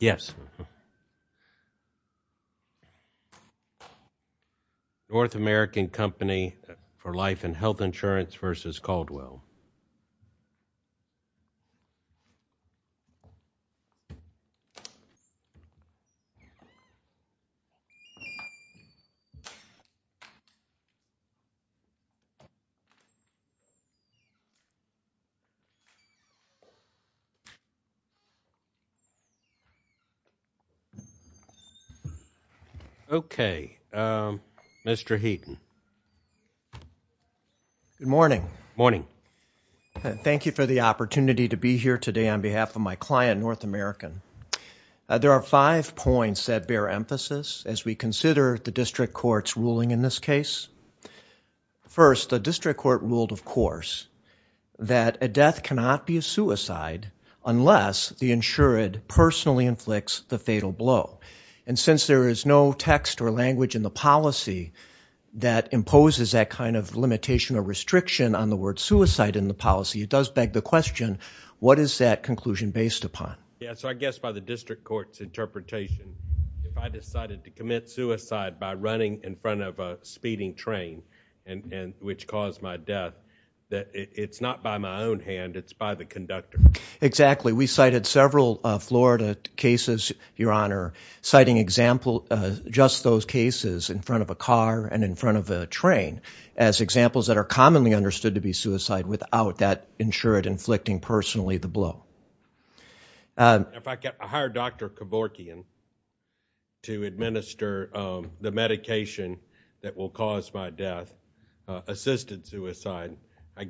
Yes, North American Company for Life and Health Insurance versus Caldwell Good morning. Thank you for the opportunity to be here today on behalf of my client, North American. There are five points that bear emphasis as we consider the district court's ruling in this case. First, the district court ruled, of course, that a death cannot be a suicide. It is not by my own hand. It is by the conductor. Exactly. We cited several Florida cases, Your Honor, citing just those cases in front of a car and in front of a train as examples that are commonly understood to be suicide without that insured inflicting personally the blow. If I hire Dr. Kevorkian to administer the medication that will cause my death, assisted I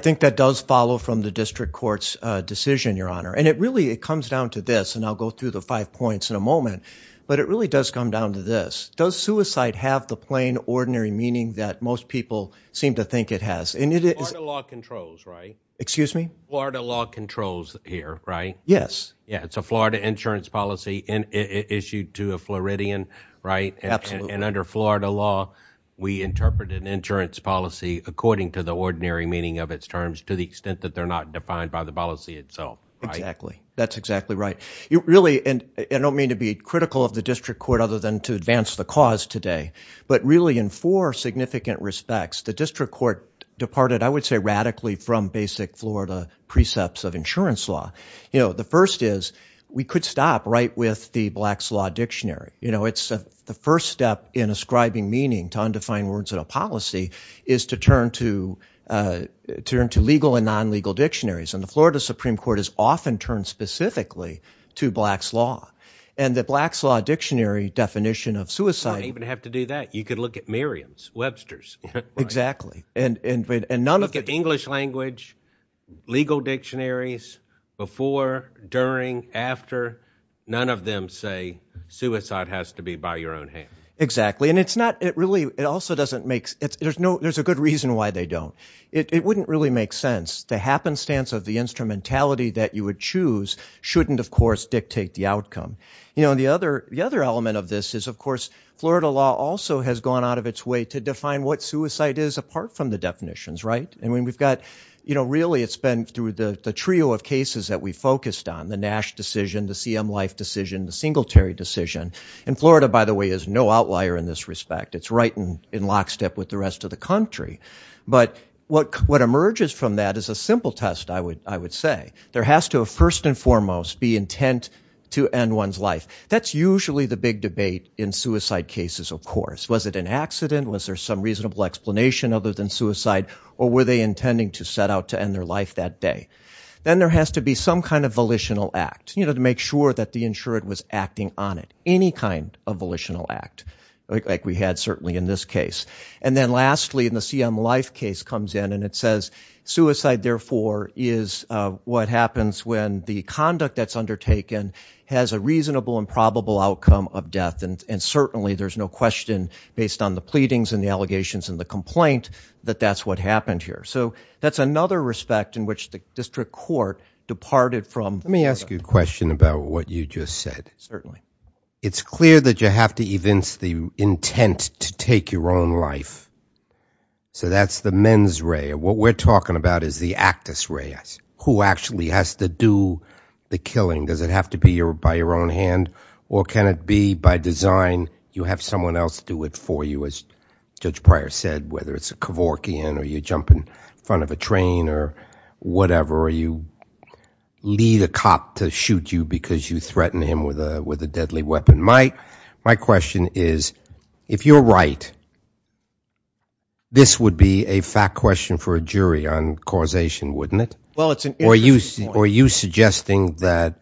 think that does follow from the district court's decision, Your Honor. It really comes down to this, and I'll go through the five points in a moment, but it really does come down to this. Does suicide have the plain, ordinary meaning that most people seem to think it has? Florida law controls, right? Excuse me? Florida law controls here, right? Yes. It's a Florida insurance policy issued to a Floridian, right? Absolutely. And under Florida law, we interpret an insurance policy according to the ordinary meaning of its terms to the extent that they're not defined by the policy itself, right? Exactly. That's exactly right. I don't mean to be critical of the district court other than to advance the cause today, but really in four significant respects, the district court departed, I would say, radically from basic Florida precepts of insurance law. The first is we could stop right with the Black's Law Dictionary. You know, it's the first step in ascribing meaning to undefined words in a policy is to turn to legal and non-legal dictionaries. And the Florida Supreme Court has often turned specifically to Black's Law. And the Black's Law Dictionary definition of suicide- You don't even have to do that. You could look at Merriam's, Webster's. Exactly. Look at English language, legal dictionaries, before, during, after, none of them say suicide has to be by your own hand. Exactly. And it's not, it really, it also doesn't make, there's a good reason why they don't. It wouldn't really make sense. The happenstance of the instrumentality that you would choose shouldn't, of course, dictate the outcome. You know, the other element of this is, of course, Florida law also has gone out of its way to define what suicide is apart from the definitions, right? I mean, we've got, you know, really it's been through the trio of cases that we've focused on. The Nash decision, the CM Life decision, the Singletary decision. And Florida, by the way, is no outlier in this respect. It's right in lockstep with the rest of the country. But what emerges from that is a simple test, I would say. There has to, first and foremost, be intent to end one's life. That's usually the big debate in suicide cases, of course. Was it an accident? Was there some reasonable explanation other than suicide? Or were they intending to set out to end their life that day? Then there has to be some kind of volitional act, you know, to make sure that the insured was acting on it. Any kind of volitional act, like we had certainly in this case. And then lastly, in the CM Life case comes in and it says, suicide, therefore, is what happens when the conduct that's undertaken has a reasonable and probable outcome of death. And certainly there's no question, based on the pleadings and the allegations and the complaint, that that's what happened here. So that's another respect in which the district court departed from. Let me ask you a question about what you just said. Certainly. It's clear that you have to evince the intent to take your own life. So that's the mens rea. What we're talking about is the actus rea. Who actually has to do the killing? Does it have to be by your own hand? Or can it be, by design, you have someone else do it for you, as Judge Pryor said, whether it's a Kevorkian or you jump in front of a train or whatever, or you lead a cop to shoot you because you threatened him with a deadly weapon. My question is, if you're right, this would be a fact question for a jury on causation, wouldn't it? Or are you suggesting that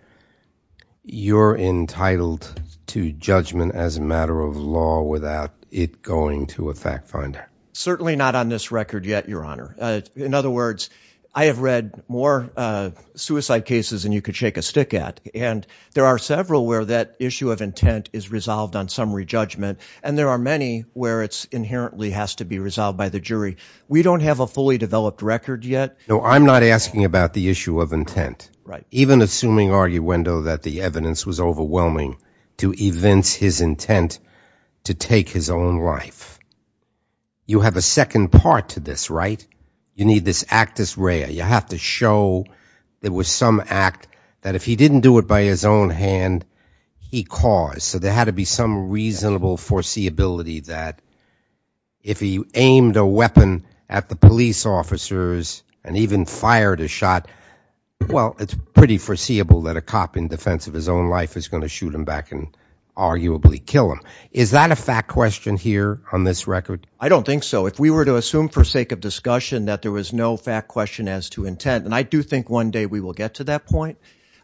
you're entitled to judgment as a matter of law without it going to a fact finder? Certainly not on this record yet, Your Honor. In other words, I have read more suicide cases than you could shake a stick at. And there are several where that issue of intent is resolved on summary judgment, and there are many where it inherently has to be resolved by the jury. We don't have a fully developed record yet. No, I'm not asking about the issue of intent. Even assuming arguendo that the evidence was overwhelming to evince his intent to take his own life. You have a second part to this, right? You need this actus rea. You have to show there was some act that if he didn't do it by his own hand, he caused. So there had to be some reasonable foreseeability that if he aimed a weapon at the police officers and even fired a shot, well, it's pretty foreseeable that a cop in defense of his own life is going to shoot him back and arguably kill him. Is that a fact question here on this record? I don't think so. If we were to assume for sake of discussion that there was no fact question as to intent, and I do think one day we will get to that point.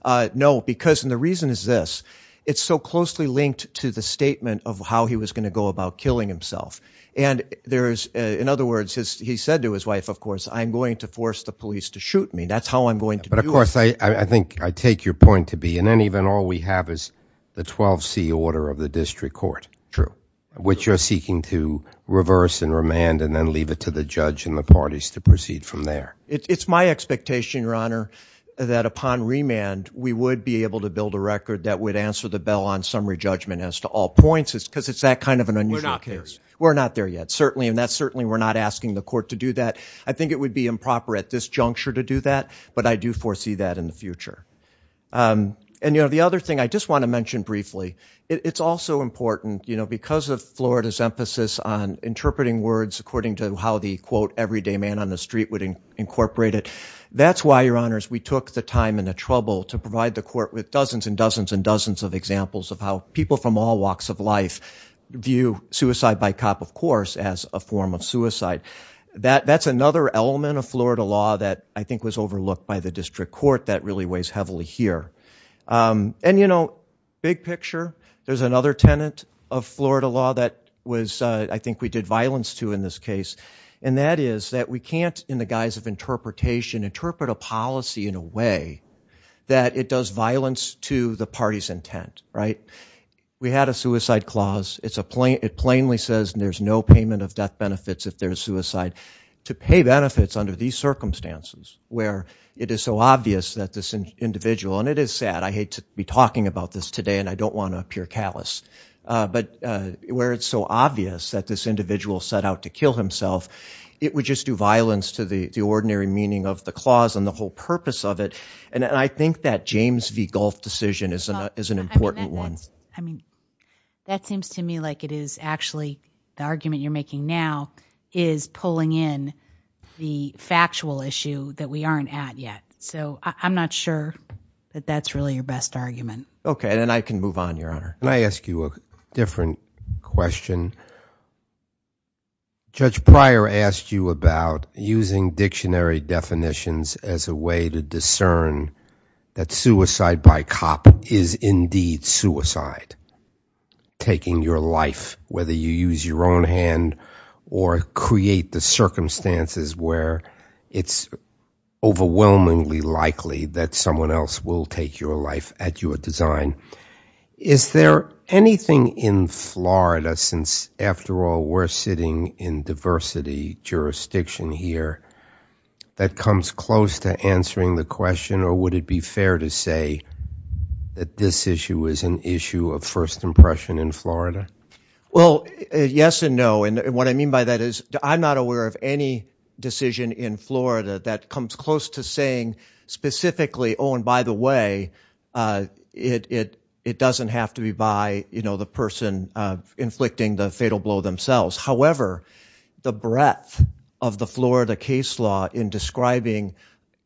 No, because the reason is this. It's so closely linked to the statement of how he was going to go about killing himself. And there is, in other words, he said to his wife, of course, I'm going to force the police to shoot me. That's how I'm going to do it. But of course, I think I take your point to be. And then even all we have is the 12 C order of the district court. True. Which you're seeking to reverse and remand and then leave it to the judge and the parties to proceed from there. It's my expectation, your honor, that upon remand, we would be able to build a record that would answer the bell on summary judgment as to all points. It's because it's that kind of an unusual case. We're not there yet. Certainly. And that's certainly we're not asking the court to do that. I think it would be improper at this juncture to do that. But I do foresee that in the future. And, you know, the other thing I just want to mention briefly, it's also important, you know, because of Florida's emphasis on interpreting words according to how the quote everyday man on the street would incorporate it. That's why, your honors, we have examples of how people from all walks of life view suicide by cop, of course, as a form of suicide. That's another element of Florida law that I think was overlooked by the district court that really weighs heavily here. And, you know, big picture, there's another tenant of Florida law that was I think we did violence to in this case. And that is that we can't, in the guise of interpretation, interpret a policy in a way that it does violence to the party's intent, right? We had a suicide clause. It plainly says there's no payment of death benefits if there's suicide. To pay benefits under these circumstances where it is so obvious that this individual, and it is sad. I hate to be talking about this today and I don't want to appear callous. But where it's so obvious that this individual set out to kill himself, it would just do violence to the ordinary meaning of the clause and the whole purpose of it. And I think that James v. Gulf decision is an important one. I mean, that seems to me like it is actually the argument you're making now is pulling in the factual issue that we aren't at yet. So I'm not sure that that's really your best argument. Okay, then I can move on, your honor. Can I ask you a different question? Judge Pryor asked you about using dictionary definitions as a way to discern that suicide by cop is indeed suicide. Taking your life, whether you use your own hand or create the circumstances where it's overwhelmingly likely that someone else will take your life at your design. Is there anything in Florida, since after all, we're sitting in diversity jurisdiction here, that comes close to answering the question or would it be fair to say that this issue is an issue of first impression in Florida? Well, yes and no. And what I mean by that is I'm not aware of any decision in Florida that comes close to saying specifically, oh, and by the way, it doesn't have to be by, you know, the person inflicting the fatal blow themselves. However, the breadth of the Florida case law in describing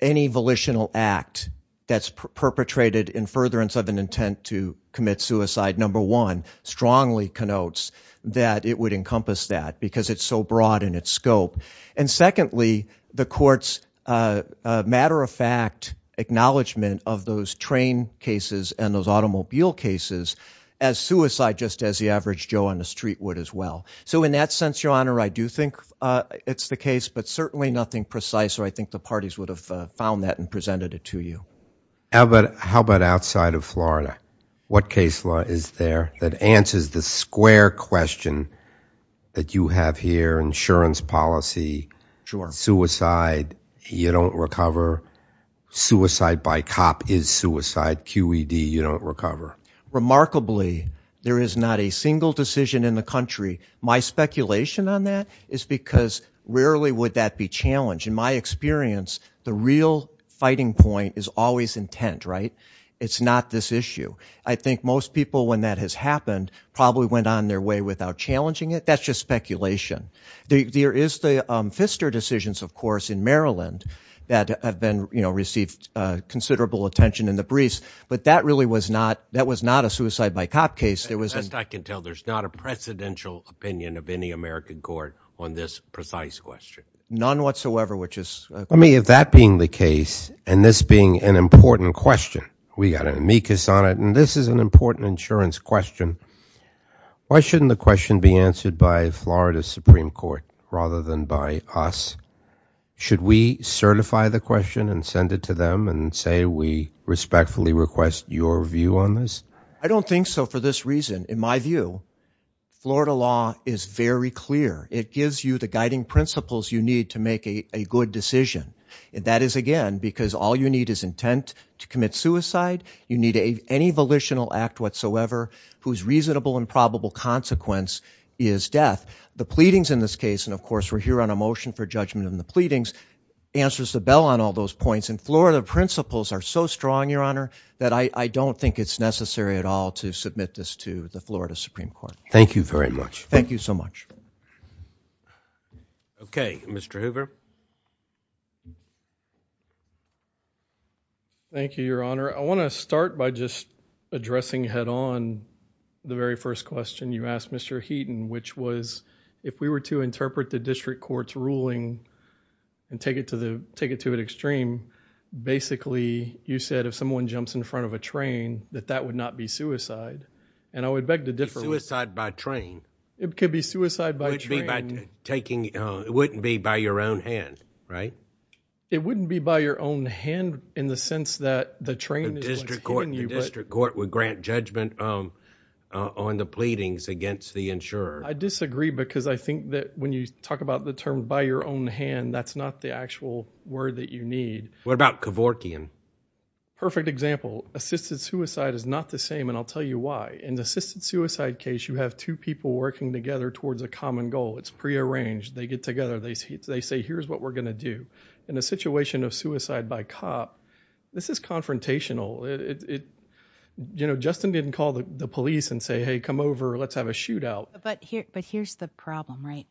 any volitional act that's perpetrated in furtherance of an intent to commit suicide, number one, strongly connotes that it would encompass that because it's so broad in its scope. And secondly, the court's matter of fact acknowledgement of those train cases and those automobile cases as suicide, just as the average Joe on the street would as well. So in that sense, your honor, I do think it's the case, but certainly nothing precise. So I think the parties would have found that and presented it to you. How about outside of Florida? What case law is there that answers the square question that you have here, insurance policy, suicide, you don't recover, suicide by cop? Cop is suicide, QED, you don't recover. Remarkably, there is not a single decision in the country. My speculation on that is because rarely would that be challenged. In my experience, the real fighting point is always intent, right? It's not this issue. I think most people, when that has happened, probably went on their way without challenging it. That's just speculation. There is the case in Maryland that have been, you know, received considerable attention in the briefs, but that really was not, that was not a suicide by cop case. There wasn't, I can tell there's not a presidential opinion of any American court on this precise question, none whatsoever, which is, I mean, if that being the case and this being an important question, we got an amicus on it and this is an important insurance question. Why shouldn't the question be answered by Florida Supreme Court rather than by us? Should we certify the question and send it to them and say we respectfully request your view on this? I don't think so for this reason. In my view, Florida law is very clear. It gives you the guiding principles you need to make a good decision. That is, again, because all you need is intent to commit suicide. You need any volitional act whatsoever whose reasonable and probable consequence is death. The pleadings in this case, and of course we're here on a motion for judgment in the pleadings, answers the bell on all those points. And Florida principles are so strong, Your Honor, that I don't think it's necessary at all to submit this to the Florida Supreme Court. Thank you very much. Thank you so much. Okay. Mr. Hoover. Thank you, Your Honor. I want to start by just addressing head-on the very first question you asked, Mr. Heaton, which was if we were to interpret the district court's ruling and take it to an extreme, basically you said if someone jumps in front of a train, that that would not be suicide. And I would beg to differ... It's suicide by train. It could be suicide by train. By taking... it wouldn't be by your own hand, right? It wouldn't be by your own hand in the sense that the train is going to hit you, but... The district court would grant judgment on the pleadings against the insurer. I disagree because I think that when you talk about the term by your own hand, that's not the actual word that you need. What about Kevorkian? Perfect example. Assisted suicide is not the same, and I'll tell you why. In the assisted suicide case, you have two people working together towards a common goal. It's prearranged. They get together. They say, here's what we're going to do. In a situation of suicide by cop, this is confrontational. You know, Justin didn't call the police and say, hey, come over. Let's have a shootout. But here's the problem, right?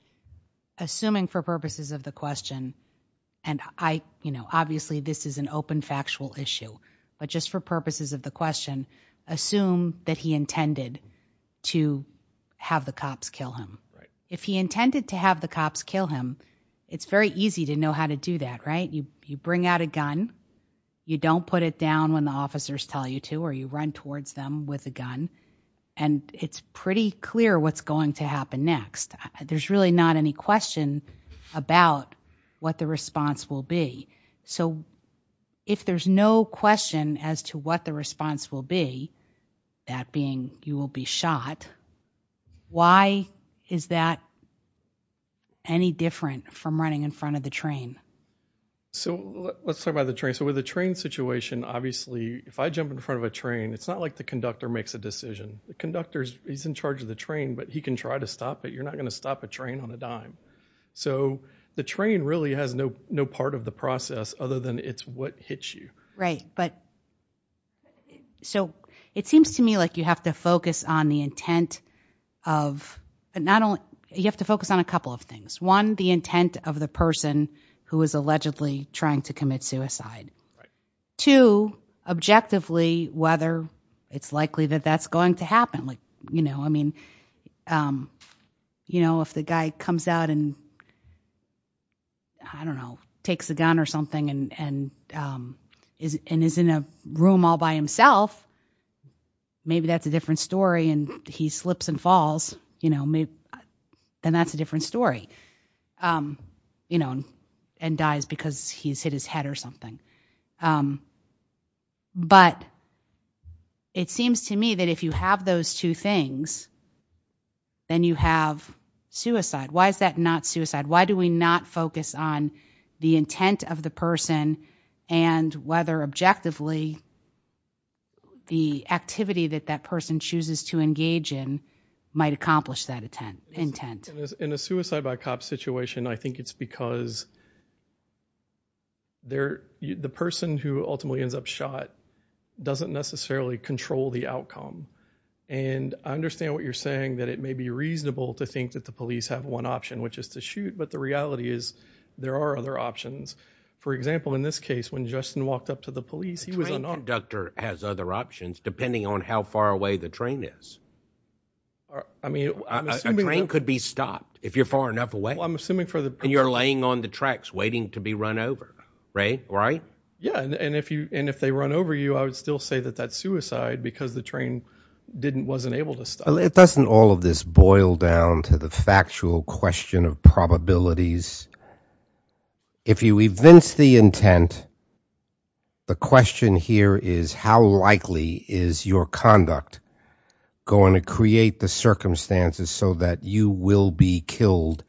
Assuming for purposes of the question, and I... you know, obviously this is an open, factual issue, but just for purposes of the question, assume that he intended to have the cops kill him. If he intended to have the cops kill him, it's very easy to know how to do that, right? You bring out a gun. You don't put it down when the officers tell you to, or you run towards them with a gun, and it's pretty clear what's going to happen next. There's really not any question about what the response will be. So if there's no question as to what the response will be, that being, you will be shot, why is that any different from running in front of the train? So let's talk about the train. So with a train situation, obviously, if I jump in front of a train, it's not like the conductor makes a decision. The conductor, he's in charge of the train, but he can try to stop it. You're not going to stop a train on a dime. So the train really has no part of the process other than it's what hits you. Right. So it seems to me like you have to focus on a couple of things. One, the intent of the person who is allegedly trying to commit suicide. Two, objectively, whether it's likely that that's going to happen. I mean, if the guy comes out and, I don't know, takes a gun or something and is in a room all by himself, maybe that's a different story and he slips and falls, you know, then that's a different story, you know, and dies because he's hit his head or something. But it seems to me that if you have those two things, then you have suicide. Why is that not suicide? Why do we not focus on the intent of the person and whether objectively the activity that that person chooses to engage in might accomplish that intent? In a suicide by cop situation, I think it's because the person who ultimately ends up shot doesn't necessarily control the outcome. And I understand what you're saying, that it may be reasonable to think that the police have one option, which is to shoot, but the reality is there are other options. For example, in this case, when Justin walked up to the police, he was unarmed. A train conductor has other options, depending on how far away the train is. I mean, I'm assuming... A train could be stopped if you're far enough away. Well, I'm assuming for the... And you're laying on the tracks waiting to be run over, right? Yeah. And if they run over you, I would still say that that's suicide because the train wasn't able to stop. It doesn't all of this boil down to the factual question of probabilities. If you evince the intent, the question here is how likely is your conduct going to create the circumstances so that you will be killed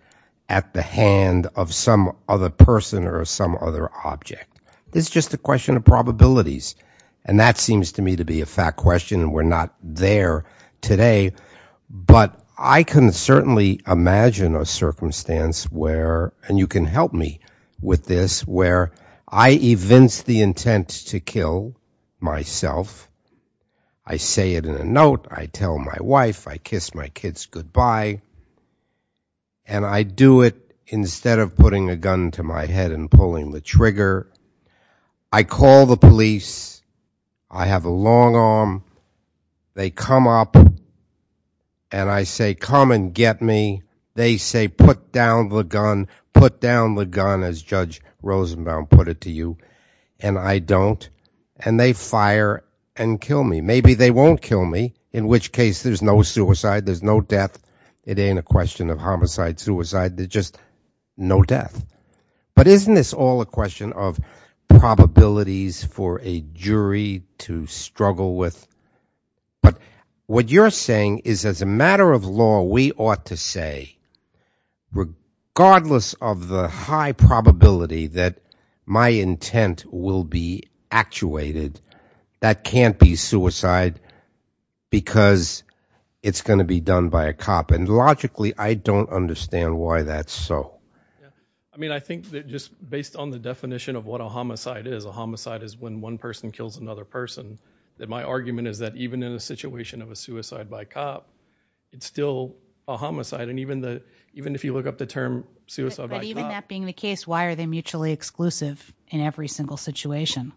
at the hand of some other person or some other object? It's just a question of probabilities. And that seems to me to be a fact question, and we're not there today, but I can certainly imagine a circumstance where, and you can help me with this, where I evince the intent to kill myself. I say it in a note. I tell my wife. I kiss my kids goodbye. And I do it instead of putting a gun to my head and pulling the trigger. I call the police. I have a long arm. They come up and I say, come and get me. They say, put down the gun. Put down the gun, as Judge Rosenbaum put it to you. And I don't. And they fire and kill me. Maybe they won't kill me, in which case there's no suicide. There's no death. It ain't a question of homicide, suicide. There's just no death. But isn't this all a question of probabilities for a jury to struggle with? But what you're saying is as a matter of law, we ought to say, regardless of the high probability that my intent will be actuated, that can't be suicide because it's going to be done by a cop. Logically, I don't understand why that's so. I mean, I think that just based on the definition of what a homicide is, a homicide is when one person kills another person, that my argument is that even in a situation of a suicide by cop, it's still a homicide. And even if you look up the term suicide by cop. But even that being the case, why are they mutually exclusive in every single situation?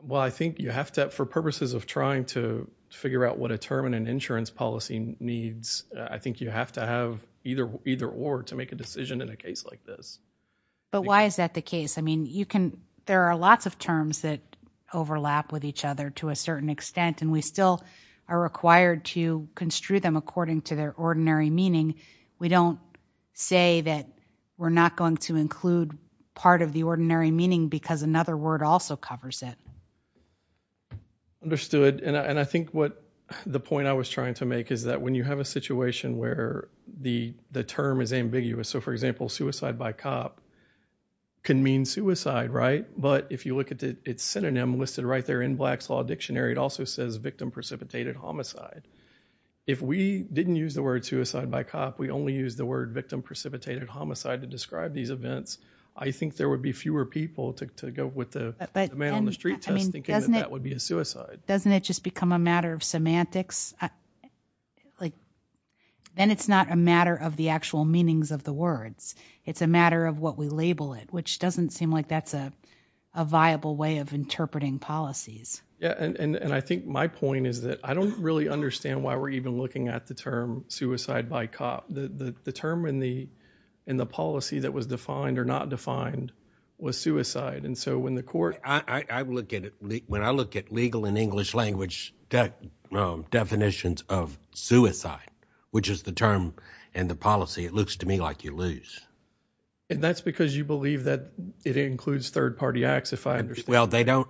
Well, I think you have to, for purposes of trying to figure out what a term in an insurance policy needs, I think you have to have either or to make a decision in a case like this. But why is that the case? I mean, there are lots of terms that overlap with each other to a certain extent and we still are required to construe them according to their ordinary meaning. We don't say that we're not going to include part of the ordinary meaning because another word also covers that. Understood. And I think what the point I was trying to make is that when you have a situation where the term is ambiguous. So, for example, suicide by cop can mean suicide, right? But if you look at its synonym listed right there in Black's Law Dictionary, it also says victim precipitated homicide. If we didn't use the word suicide by cop, we only use the word victim precipitated homicide to describe these events. I think there would be fewer people to go with the man on the street test thinking that that would be a suicide. Doesn't it just become a matter of semantics? Then it's not a matter of the actual meanings of the words. It's a matter of what we label it, which doesn't seem like that's a viable way of interpreting policies. Yeah. And I think my point is that I don't really understand why we're even looking at the term suicide by cop. The term in the policy that was defined or not defined was suicide. And so, I look at it, when I look at legal and English language definitions of suicide, which is the term in the policy, it looks to me like you lose. And that's because you believe that it includes third-party acts, if I understand. Well, they don't.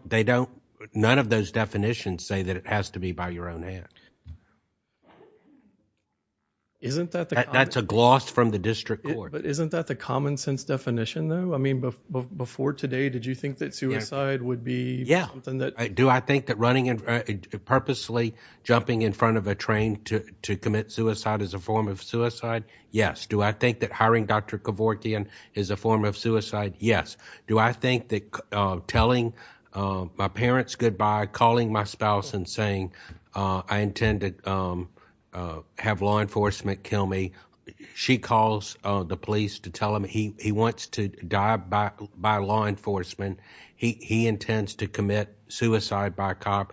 None of those definitions say that it has to be by your own hands. That's a gloss from the district court. But isn't that the common sense definition though? I mean, before today, did you think that suicide would be something that... Yeah. Do I think that running and purposely jumping in front of a train to commit suicide is a form of suicide? Yes. Do I think that hiring Dr. Kevorkian is a form of suicide? Yes. Do I think that telling my parents goodbye, calling my spouse and saying, I intend to have law enforcement kill me. She calls the police to tell him he wants to die by law enforcement. He intends to commit suicide by cop.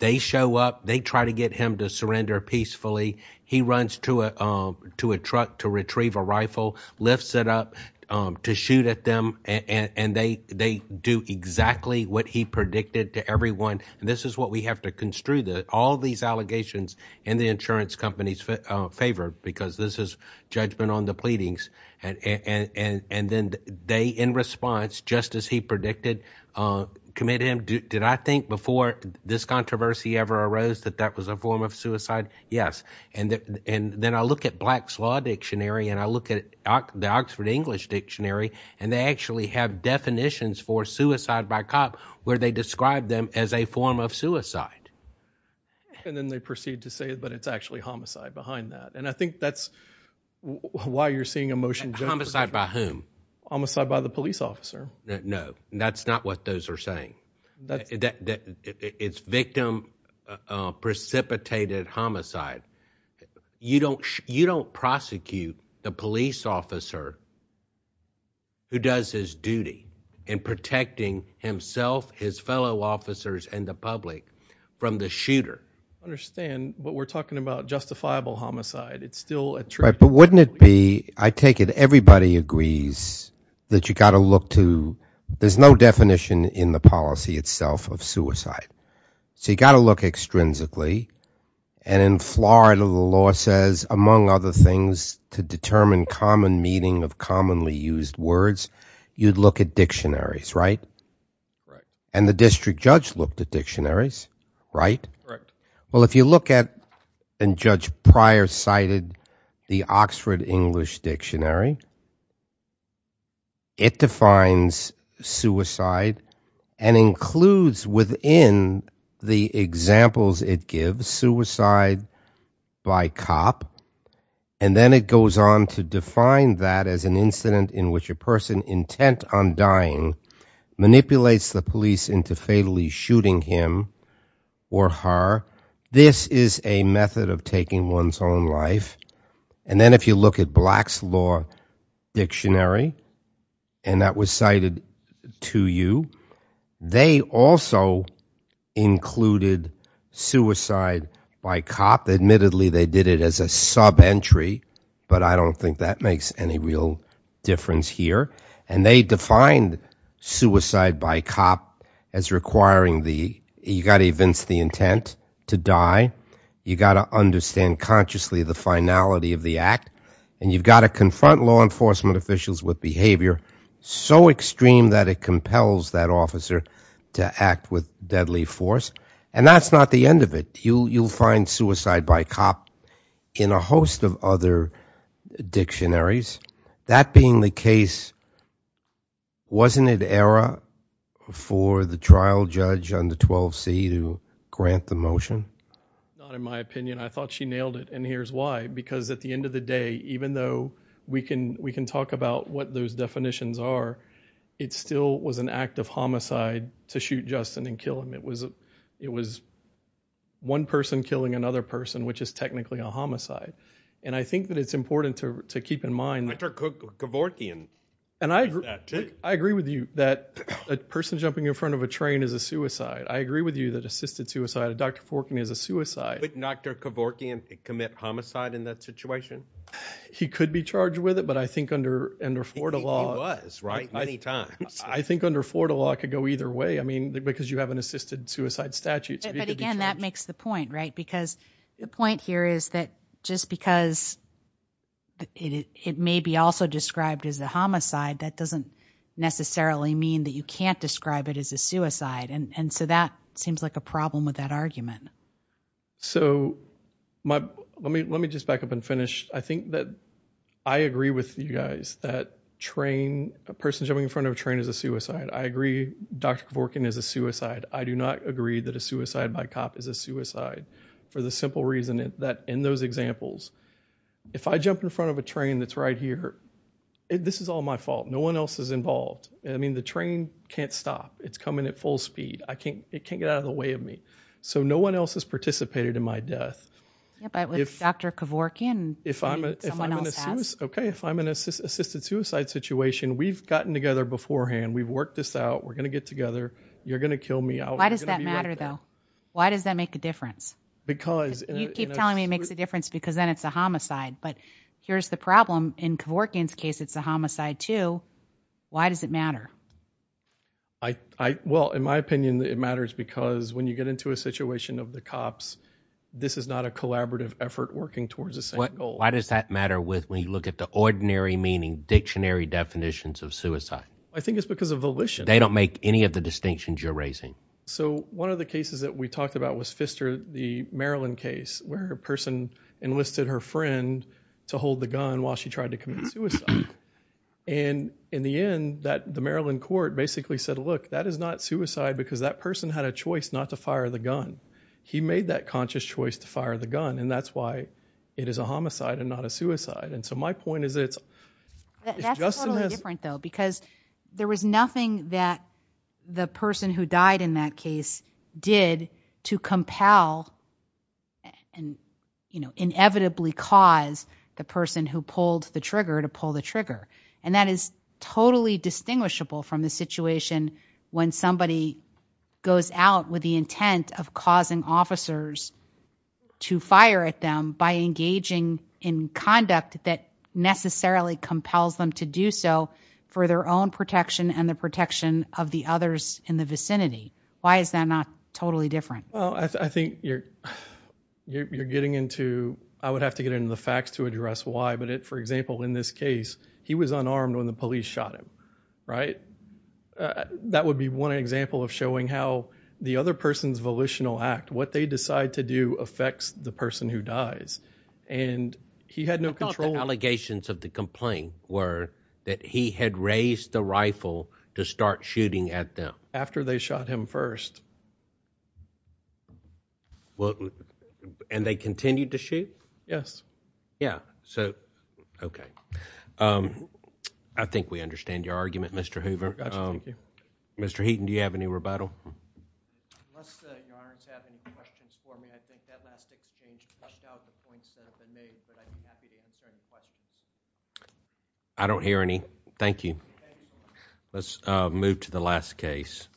They show up, they try to get him to surrender peacefully. He runs to a truck to retrieve a rifle, lifts it up to shoot at them. And they do exactly what he predicted to everyone. And this is what we have to construe that all these allegations and the because this is judgment on the pleadings. And then they, in response, just as he predicted, commit him. Did I think before this controversy ever arose that that was a form of suicide? Yes. And then I look at Black's Law Dictionary and I look at the Oxford English Dictionary, and they actually have definitions for suicide by cop where they describe them as a form of suicide. And then they proceed to say, but it's actually homicide behind that. And I think that's why you're seeing a motion. Homicide by whom? Homicide by the police officer. No, that's not what those are saying. It's victim precipitated homicide. You don't, you don't prosecute the police officer who does his duty in protecting himself, his fellow officers and the public from the shooter. I understand what we're talking about, justifiable homicide. It's still a trap. But wouldn't it be, I take it everybody agrees that you got to look to there's no definition in the policy itself of suicide. So you got to look extrinsically. And in Florida, the law says, among other things, to determine common meaning of suicide. Well, if you look at, and Judge Pryor cited the Oxford English Dictionary, it defines suicide and includes within the examples it gives suicide by cop. And then it goes on to define that as an incident in which a person intent on dying manipulates the police into fatally shooting him or her. This is a method of taking one's own life. And then if you look at Black's Law Dictionary, and that was cited to you, they also included suicide by cop. Admittedly, they did it as a sub entry, but I don't think that makes any real difference here. And they defined suicide by cop as requiring the, you got to evince the intent to die. You got to understand consciously the finality of the act. And you've got to confront law enforcement officials with behavior so extreme that it compels that officer to act with deadly force. And that's not the end of it. You'll find suicide by cop in a host of other dictionaries. That being the case, wasn't it error for the trial judge on the 12C to grant the motion? Not in my opinion. I thought she nailed it. And here's why. Because at the end of the day, even though we can talk about what those definitions are, it still was an act of homicide to shoot Justin and kill him. It was one person killing another person, which is technically a suicide. I agree with you that a person jumping in front of a train is a suicide. I agree with you that assisted suicide, Dr. Forkin, is a suicide. Would Dr. Kevorkian commit homicide in that situation? He could be charged with it, but I think under Florida law, I think under Florida law, it could go either way. I mean, because you have an assisted suicide statute. But again, that makes the point, right? Because the point here is that just because it may be also described as a homicide, that doesn't necessarily mean that you can't describe it as a suicide. And so that seems like a problem with that argument. So let me just back up and finish. I think that I agree with you guys that a person jumping in front of a train is a suicide. I agree Dr. Kevorkian is a suicide. I do not agree that suicide by cop is a suicide for the simple reason that in those examples, if I jump in front of a train that's right here, this is all my fault. No one else is involved. I mean, the train can't stop. It's coming at full speed. It can't get out of the way of me. So no one else has participated in my death. Yeah, but with Dr. Kevorkian, someone else has. Okay, if I'm in an assisted suicide situation, we've gotten together beforehand. We've worked this out. We're going to get together. You're going to kill me. Why does that matter though? Why does that make a difference? Because you keep telling me it makes a difference because then it's a homicide. But here's the problem in Kevorkian's case, it's a homicide too. Why does it matter? I, I, well, in my opinion, it matters because when you get into a situation of the cops, this is not a collaborative effort working towards the same goal. Why does that matter with, when you look at the ordinary meaning dictionary definitions of you're raising? So one of the cases that we talked about was Pfister, the Maryland case where a person enlisted her friend to hold the gun while she tried to commit suicide. And in the end that the Maryland court basically said, look, that is not suicide because that person had a choice not to fire the gun. He made that conscious choice to fire the gun. And that's why it is a homicide and not a suicide. And so my point is it's just different though, because there was nothing that the person who died in that case did to compel and, you know, inevitably cause the person who pulled the trigger to pull the trigger. And that is totally distinguishable from the situation when somebody goes out with the intent of causing officers to fire at them by engaging in conduct that necessarily compels them to do so for their own protection and the protection of the others in the vicinity. Why is that not totally different? Well, I think you're, you're, you're getting into, I would have to get into the facts to address why, but it, for example, in this case, he was unarmed when the police shot him, right? That would be one example of showing how the other person's volitional act, what they decide to do the person who dies. And he had no control allegations of the complaint were that he had raised the rifle to start shooting at them after they shot him first. Well, and they continued to shoot. Yes. Yeah. So, okay. Um, I think we understand your argument, Mr. Hoover. Um, Mr. Heaton, do you have any rebuttal? Okay. I don't hear any. Thank you. Let's move to the last case.